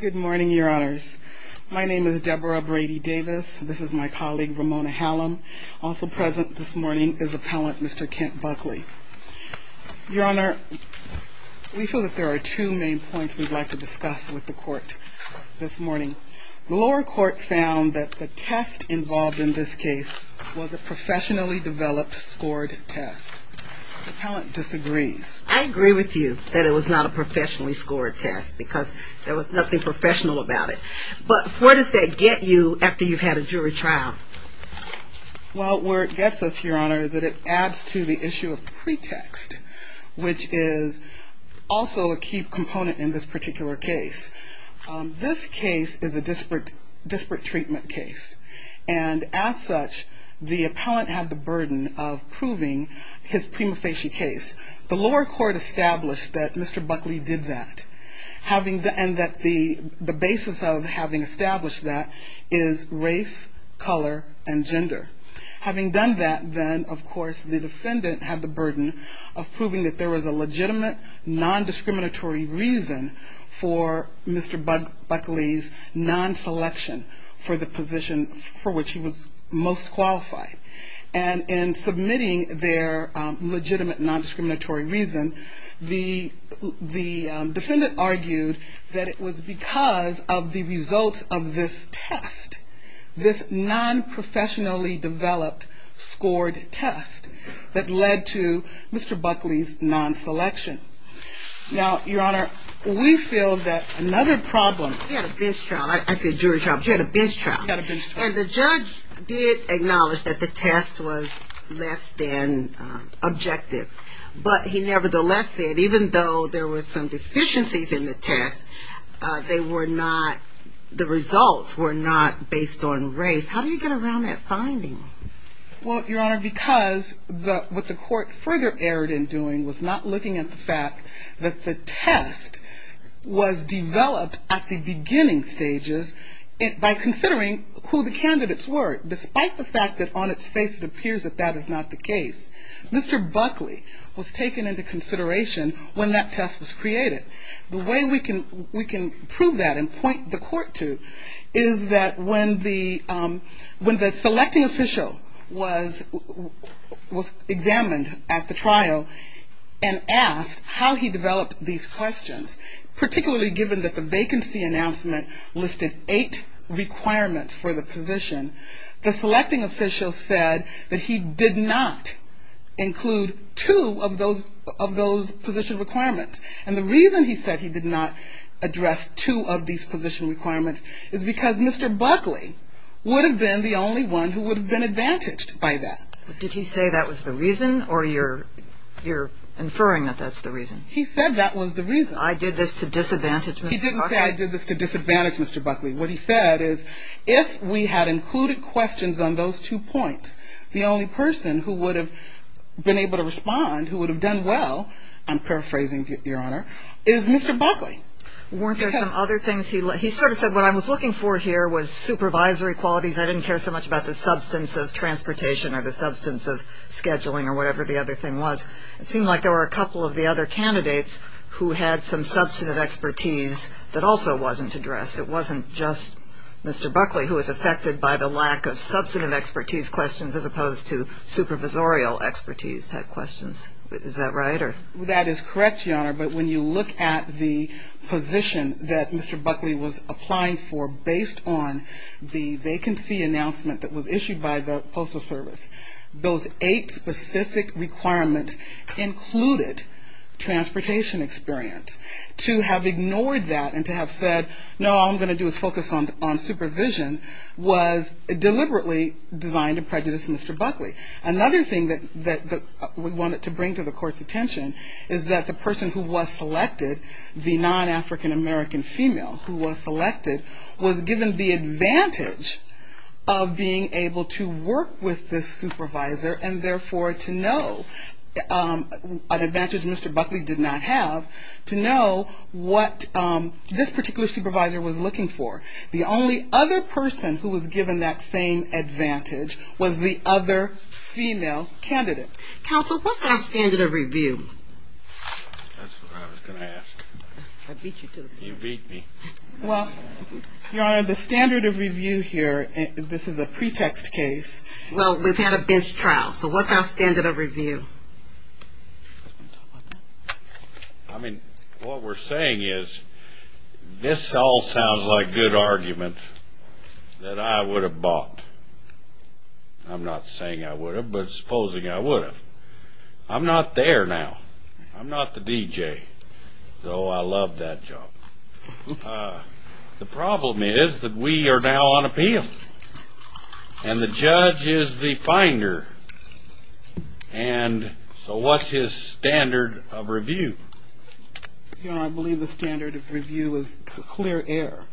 Good morning, your honors. My name is Deborah Brady Davis. This is my colleague, Ramona Hallam. Also present this morning is appellant Mr. Kent Buckley. Your honor, we feel that there are two main points we'd like to discuss with the court this morning. The lower court found that the test involved in this case was a professionally developed scored test. The appellant disagrees. I agree with you that it was not a professionally scored test because there was nothing professional about it. But where does that get you after you've had a jury trial? Well, where it gets us, your honor, is that it adds to the issue of pretext, which is also a key component in this particular case. This case is a disparate treatment case. And as such, the appellant had the burden of proving his prima facie case. The lower court established that Mr. Buckley did that, and that the basis of having established that is race, color, and gender. For the position for which he was most qualified. And in submitting their legitimate non-discriminatory reason, the defendant argued that it was because of the results of this test. This non-professionally developed scored test that led to Mr. Buckley's non-selection. Now, your honor, we feel that another problem... We had a bench trial. I said jury trial, but you had a bench trial. We had a bench trial. And the judge did acknowledge that the test was less than objective. But he nevertheless said even though there were some deficiencies in the test, they were not, the results were not based on race. How do you get around that finding? Well, your honor, because what the court further erred in doing was not looking at the fact that the test was developed at the beginning stages by considering who the candidates were. Despite the fact that on its face it appears that that is not the case. Mr. Buckley was taken into consideration when that test was created. The way we can prove that and point the court to is that when the selecting official was examined at the trial and asked how he developed these questions, particularly given that the vacancy announcement listed eight requirements for the position, the selecting official said that he did not include two of those position requirements. And the reason he said he did not address two of these position requirements is because Mr. Buckley would have been the only one who would have been advantaged by that. Did he say that was the reason or you're inferring that that's the reason? He said that was the reason. I did this to disadvantage Mr. Buckley? What he said is if we had included questions on those two points, the only person who would have been able to respond, who would have done well, I'm paraphrasing, your honor, is Mr. Buckley. Weren't there some other things? He sort of said what I was looking for here was supervisory qualities. I didn't care so much about the substance of transportation or the substance of scheduling or whatever the other thing was. It seemed like there were a couple of the other candidates who had some substantive expertise that also wasn't addressed. It wasn't just Mr. Buckley who was affected by the lack of substantive expertise questions as opposed to supervisorial expertise type questions. Is that right? That is correct, your honor. But when you look at the position that Mr. Buckley was applying for based on the vacancy announcement that was issued by the Postal Service, those eight specific requirements included transportation experience. To have ignored that and to have said, no, all I'm going to do is focus on supervision was deliberately designed to prejudice Mr. Buckley. Another thing that we wanted to bring to the court's attention is that the person who was selected, the non-African American female who was selected, was given the advantage of being able to work with this supervisor and therefore to know, an advantage Mr. Buckley did not have, to know what this particular supervisor was looking for. The only other person who was given that same advantage was the other female candidate. Counsel, what's our standard of review? That's what I was going to ask. I beat you to it. You beat me. Well, your honor, the standard of review here, this is a pretext case. Well, we've had a bench trial, so what's our standard of review? I mean, what we're saying is this all sounds like good argument that I would have bought. I'm not saying I would have, but supposing I would have. I'm not there now. I'm not the DJ, though I love that job. The problem is that we are now on appeal, and the judge is the finder, and so what's his standard of review? Your honor, I believe the standard of review is clear air.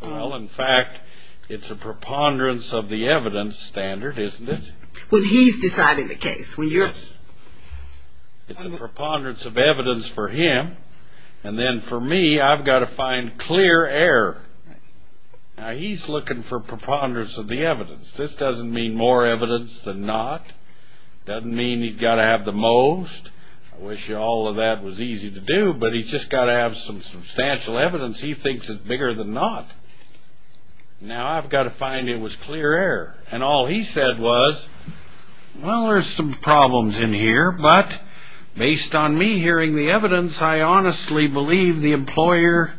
Well, in fact, it's a preponderance of the evidence standard, isn't it? When he's deciding the case. It's a preponderance of evidence for him, and then for me, I've got to find clear air. Now, he's looking for preponderance of the evidence. This doesn't mean more evidence than not. It doesn't mean he's got to have the most. I wish all of that was easy to do, but he's just got to have some substantial evidence. He thinks it's bigger than not. Now, I've got to find it was clear air, and all he said was, Well, there's some problems in here, but based on me hearing the evidence, I honestly believe the employer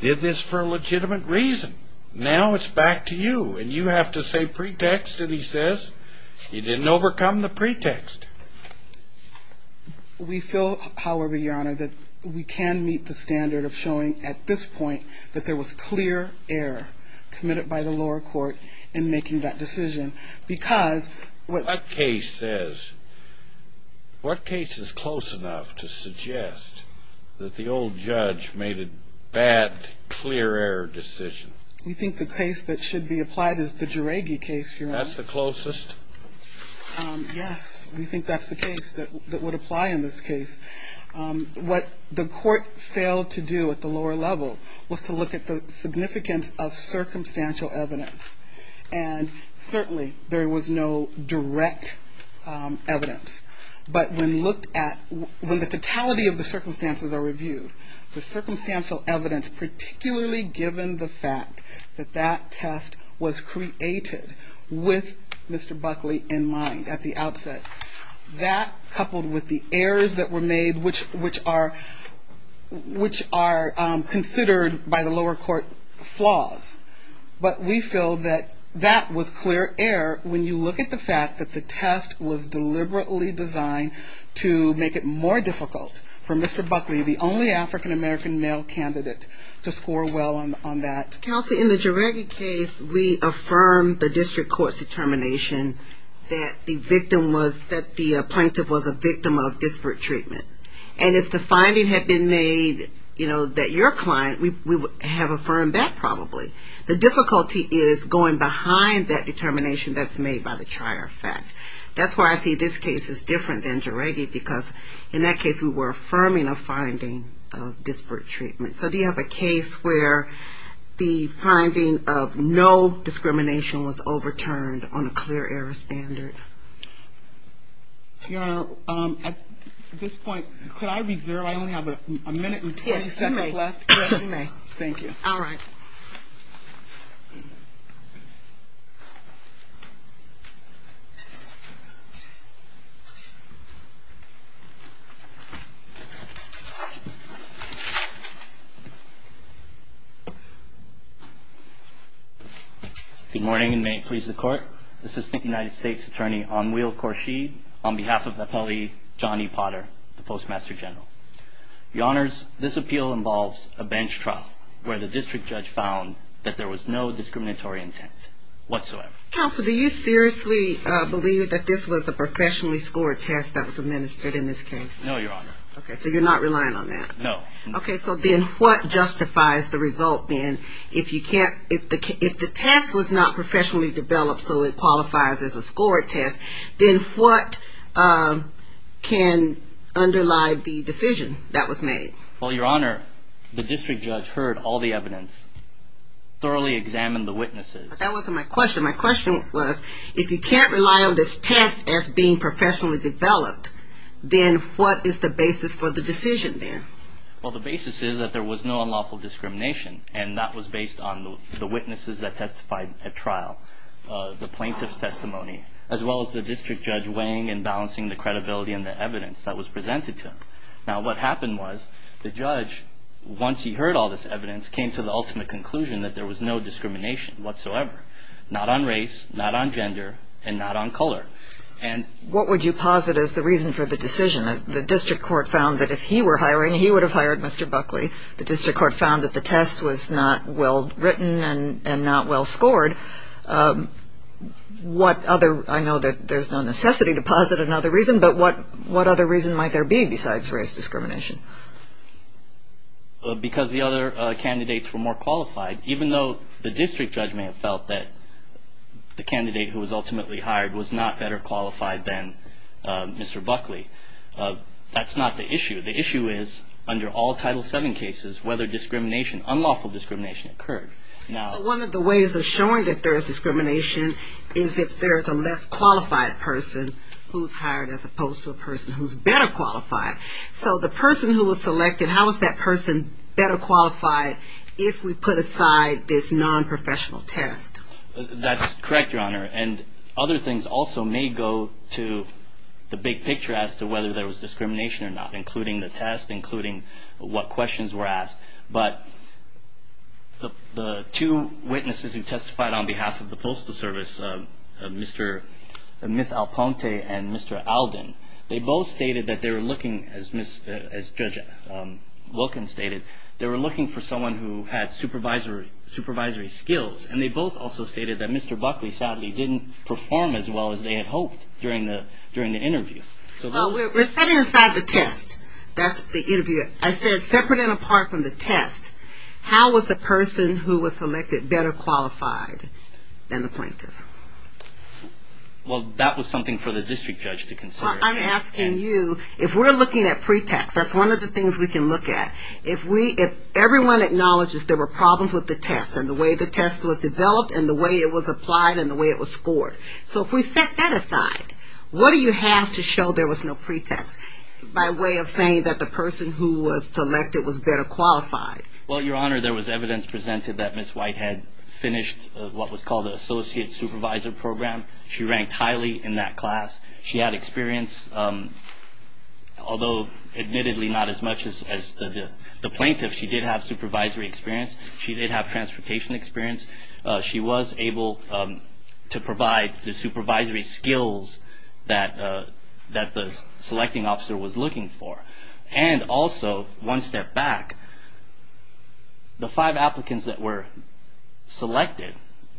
did this for a legitimate reason. Now, it's back to you, and you have to say pretext, and he says he didn't overcome the pretext. We feel, however, your honor, that we can meet the standard of showing at this point that there was clear air committed by the lower court in making that decision What case is close enough to suggest that the old judge made a bad, clear air decision? We think the case that should be applied is the Geraghi case, your honor. That's the closest? Yes, we think that's the case that would apply in this case. What the court failed to do at the lower level was to look at the significance of circumstantial evidence. And certainly there was no direct evidence. But when looked at, when the totality of the circumstances are reviewed, the circumstantial evidence, particularly given the fact that that test was created with Mr. Buckley in mind at the outset, that coupled with the errors that were made, which are considered by the lower court flaws. But we feel that that was clear air when you look at the fact that the test was deliberately designed to make it more difficult for Mr. Buckley, the only African American male candidate, to score well on that. Kelsey, in the Geraghi case, we affirmed the district court's determination that the victim was, that the plaintiff was a victim of disparate treatment. And if the finding had been made, you know, that your client, we would have affirmed that probably. The difficulty is going behind that determination that's made by the trier effect. That's why I see this case as different than Geraghi, because in that case we were affirming a finding of disparate treatment. So do you have a case where the finding of no discrimination was overturned on a clear air standard? Your Honor, at this point, could I reserve? I only have a minute and 20 seconds left. Yes, you may. Thank you. All right. Good morning and may it please the Court. This is the United States Attorney, Anwil Khorshid, on behalf of Appellee Johnny Potter, the Postmaster General. Your Honors, this appeal involves a bench trial where the district judge found that there was no discriminatory intent whatsoever. Counsel, do you seriously believe that this was a professionally scored test that was administered in this case? No, Your Honor. Okay, so you're not relying on that? No. Okay, so then what justifies the result then? If the test was not professionally developed so it qualifies as a scored test, then what can underlie the decision that was made? Well, Your Honor, the district judge heard all the evidence, thoroughly examined the witnesses. That wasn't my question. My question was, if you can't rely on this test as being professionally developed, then what is the basis for the decision then? Well, the basis is that there was no unlawful discrimination, and that was based on the witnesses that testified at trial, the plaintiff's testimony, as well as the district judge weighing and balancing the credibility and the evidence that was presented to him. Now, what happened was the judge, once he heard all this evidence, came to the ultimate conclusion that there was no discrimination whatsoever, not on race, not on gender, and not on color. And what would you posit as the reason for the decision? The district court found that if he were hiring, he would have hired Mr. Buckley. The district court found that the test was not well written and not well scored. I know that there's no necessity to posit another reason, but what other reason might there be besides race discrimination? Because the other candidates were more qualified, even though the district judge may have felt that the candidate who was ultimately hired was not better qualified than Mr. Buckley. That's not the issue. The issue is, under all Title VII cases, whether discrimination, unlawful discrimination, occurred. One of the ways of showing that there's discrimination is if there's a less qualified person who's hired as opposed to a person who's better qualified. So the person who was selected, how is that person better qualified if we put aside this nonprofessional test? That's correct, Your Honor. And other things also may go to the big picture as to whether there was discrimination or not, including the test, including what questions were asked. But the two witnesses who testified on behalf of the Postal Service, Ms. Alponte and Mr. Alden, they both stated that they were looking, as Judge Wilkins stated, they were looking for someone who had supervisory skills. And they both also stated that Mr. Buckley sadly didn't perform as well as they had hoped during the interview. We're setting aside the test. That's the interview. I said separate and apart from the test, how was the person who was selected better qualified than the plaintiff? Well, that was something for the district judge to consider. I'm asking you, if we're looking at pretext, that's one of the things we can look at. If everyone acknowledges there were problems with the test and the way the test was developed and the way it was applied and the way it was scored. So if we set that aside, what do you have to show there was no pretext by way of saying that the person who was selected was better qualified? Well, Your Honor, there was evidence presented that Ms. White had finished what was called the Associate Supervisor Program. She ranked highly in that class. She had experience, although admittedly not as much as the plaintiff. She did have supervisory experience. She did have transportation experience. She was able to provide the supervisory skills that the selecting officer was looking for. And also, one step back, the five applicants that were selected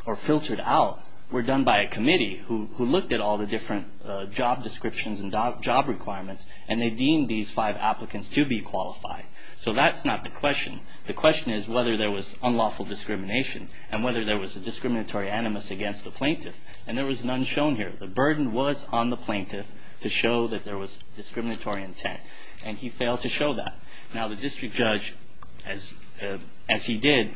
or filtered out were done by a committee who looked at all the different job descriptions and job requirements and they deemed these five applicants to be qualified. So that's not the question. The question is whether there was unlawful discrimination and whether there was a discriminatory animus against the plaintiff. And there was none shown here. The burden was on the plaintiff to show that there was discriminatory intent, and he failed to show that. Now, the district judge, as he did,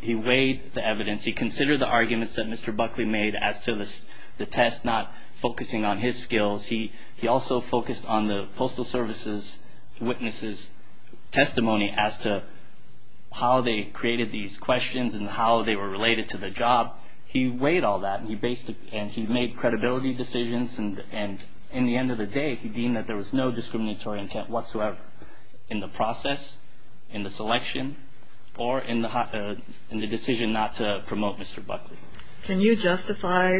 he weighed the evidence. He considered the arguments that Mr. Buckley made as to the test not focusing on his skills. He also focused on the Postal Service's witnesses' testimony as to how they created these questions and how they were related to the job. He weighed all that and he based it and he made credibility decisions. And in the end of the day, he deemed that there was no discriminatory intent whatsoever in the process, in the selection, or in the decision not to promote Mr. Buckley. Can you justify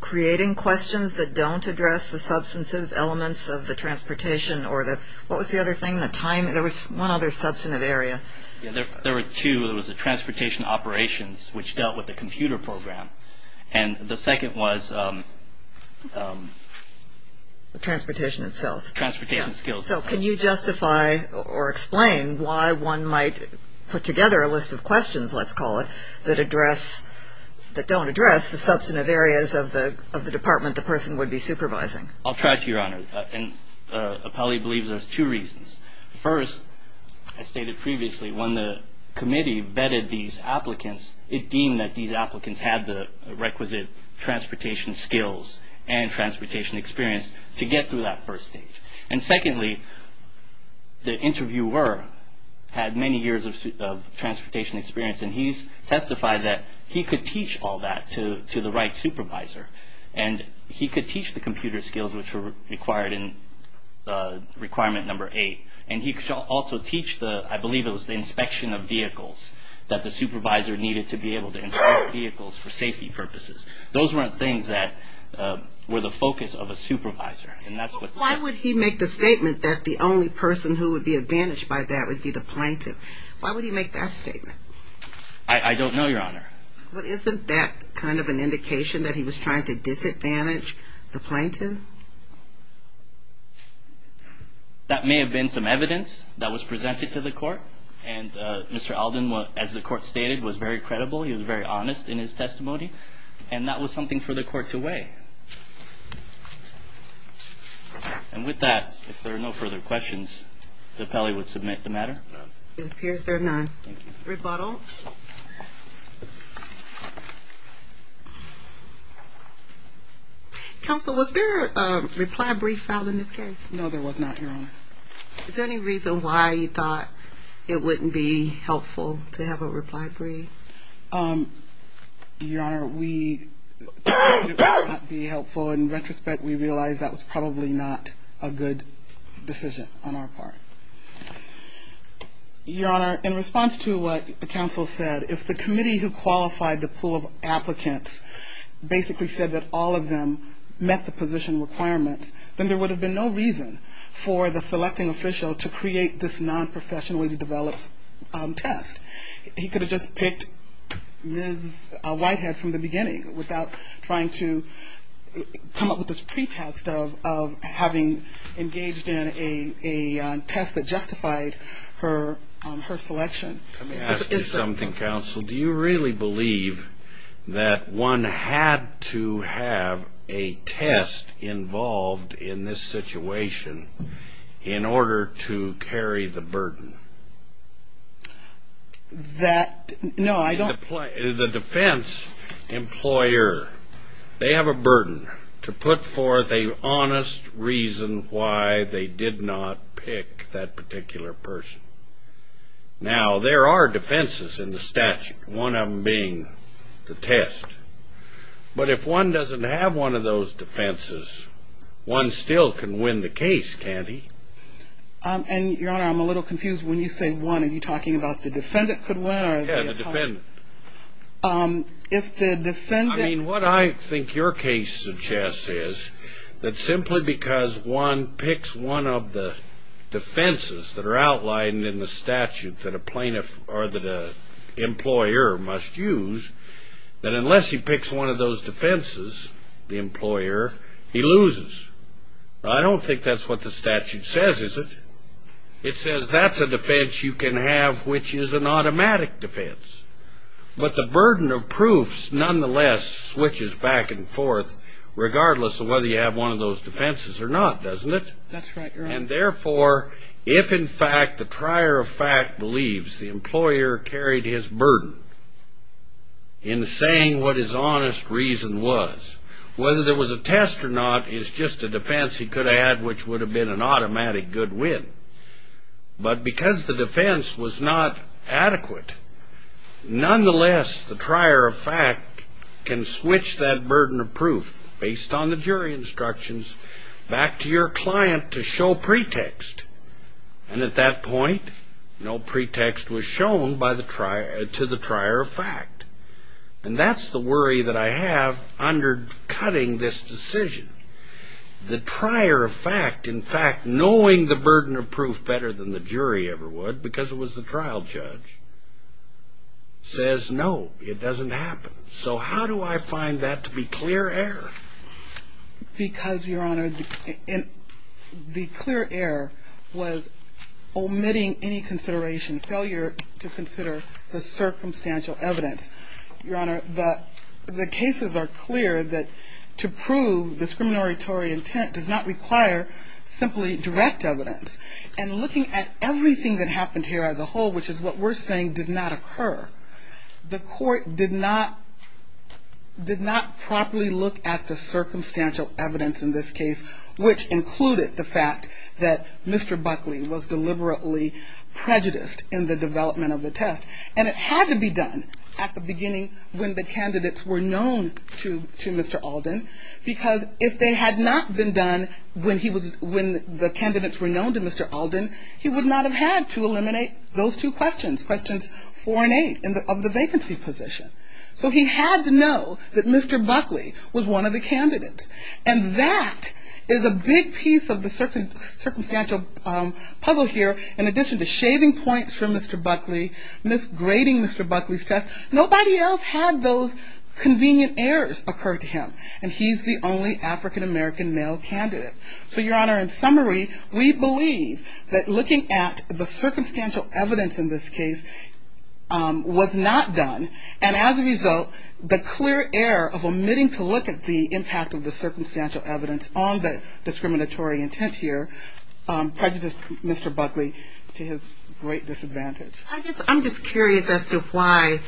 creating questions that don't address the substantive elements of the transportation? What was the other thing, the time? There was one other substantive area. There were two. There was the transportation operations, which dealt with the computer program. And the second was transportation itself. Transportation skills. So can you justify or explain why one might put together a list of questions, let's call it, that don't address the substantive areas of the department the person would be supervising? I'll try to, Your Honor. And Appelli believes there's two reasons. First, as stated previously, when the committee vetted these applicants, it deemed that these applicants had the requisite transportation skills and transportation experience to get through that first stage. And secondly, the interviewer had many years of transportation experience and he testified that he could teach all that to the right supervisor and he could teach the computer skills which were required in requirement number eight. And he could also teach the, I believe it was the inspection of vehicles, that the supervisor needed to be able to inspect vehicles for safety purposes. Those weren't things that were the focus of a supervisor. Why would he make the statement that the only person who would be advantaged by that would be the plaintiff? Why would he make that statement? I don't know, Your Honor. Well, isn't that kind of an indication that he was trying to disadvantage the plaintiff? That may have been some evidence that was presented to the court. And Mr. Alden, as the court stated, was very credible. He was very honest in his testimony. And that was something for the court to weigh. And with that, if there are no further questions, Appelli would submit the matter. It appears there are none. Thank you. Counsel? Counsel, was there a reply brief filed in this case? No, there was not, Your Honor. Is there any reason why you thought it wouldn't be helpful to have a reply brief? Your Honor, we thought it would not be helpful. In retrospect, we realize that was probably not a good decision on our part. Your Honor, in response to what the counsel said, if the committee who qualified the pool of applicants basically said that all of them met the position requirements, then there would have been no reason for the selecting official to create this nonprofessionally developed test. He could have just picked Ms. Whitehead from the beginning without trying to come up with this pretext of having engaged in a test that justified her selection. Let me ask you something, Counsel. Do you really believe that one had to have a test involved in this situation in order to carry the burden? That, no, I don't. The defense employer, they have a burden to put forth an honest reason why they did not pick that particular person. Now, there are defenses in the statute, one of them being the test. But if one doesn't have one of those defenses, one still can win the case, can't he? And, Your Honor, I'm a little confused. Because when you say one, are you talking about the defendant could win? Yeah, the defendant. I mean, what I think your case suggests is that simply because one picks one of the defenses that are outlined in the statute that a plaintiff or that an employer must use, that unless he picks one of those defenses, the employer, he loses. I don't think that's what the statute says, is it? It says that's a defense you can have which is an automatic defense. But the burden of proofs, nonetheless, switches back and forth, regardless of whether you have one of those defenses or not, doesn't it? That's right, Your Honor. And, therefore, if, in fact, the trier of fact believes the employer carried his burden in saying what his honest reason was, whether there was a test or not is just a defense he could have had which would have been an automatic good win. But because the defense was not adequate, nonetheless, the trier of fact can switch that burden of proof, based on the jury instructions, back to your client to show pretext. And at that point, no pretext was shown to the trier of fact. And that's the worry that I have under cutting this decision. The trier of fact, in fact, knowing the burden of proof better than the jury ever would, because it was the trial judge, says no, it doesn't happen. So how do I find that to be clear error? Because, Your Honor, the clear error was omitting any consideration, failure to consider the circumstantial evidence. Your Honor, the cases are clear that to prove discriminatory intent does not require simply direct evidence. And looking at everything that happened here as a whole, which is what we're saying did not occur, the Court did not properly look at the circumstantial evidence in this case, which included the fact that Mr. Buckley was deliberately prejudiced in the development of the test. And it had to be done at the beginning when the candidates were known to Mr. Alden, because if they had not been done when the candidates were known to Mr. Alden, he would not have had to eliminate those two questions, questions four and eight of the vacancy position. So he had to know that Mr. Buckley was one of the candidates. And that is a big piece of the circumstantial puzzle here. In addition to shaving points for Mr. Buckley, misgrading Mr. Buckley's test, nobody else had those convenient errors occur to him. And he's the only African-American male candidate. So, Your Honor, in summary, we believe that looking at the circumstantial evidence in this case was not done. And as a result, the clear error of omitting to look at the impact of the circumstantial evidence on the discriminatory intent here prejudiced Mr. Buckley to his great disadvantage. I'm just curious as to why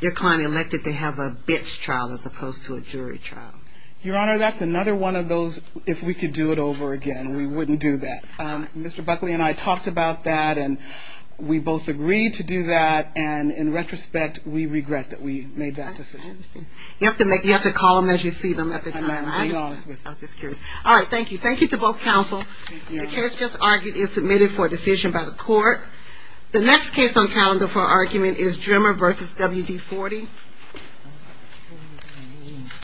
your client elected to have a bitch trial as opposed to a jury trial. Your Honor, that's another one of those if we could do it over again, we wouldn't do that. Mr. Buckley and I talked about that, and we both agreed to do that. And in retrospect, we regret that we made that decision. You have to call them as you see them at the time. I'm being honest with you. I was just curious. All right, thank you. Thank you to both counsel. The case just argued is submitted for a decision by the court. The next case on calendar for argument is Drimmer v. WD-40.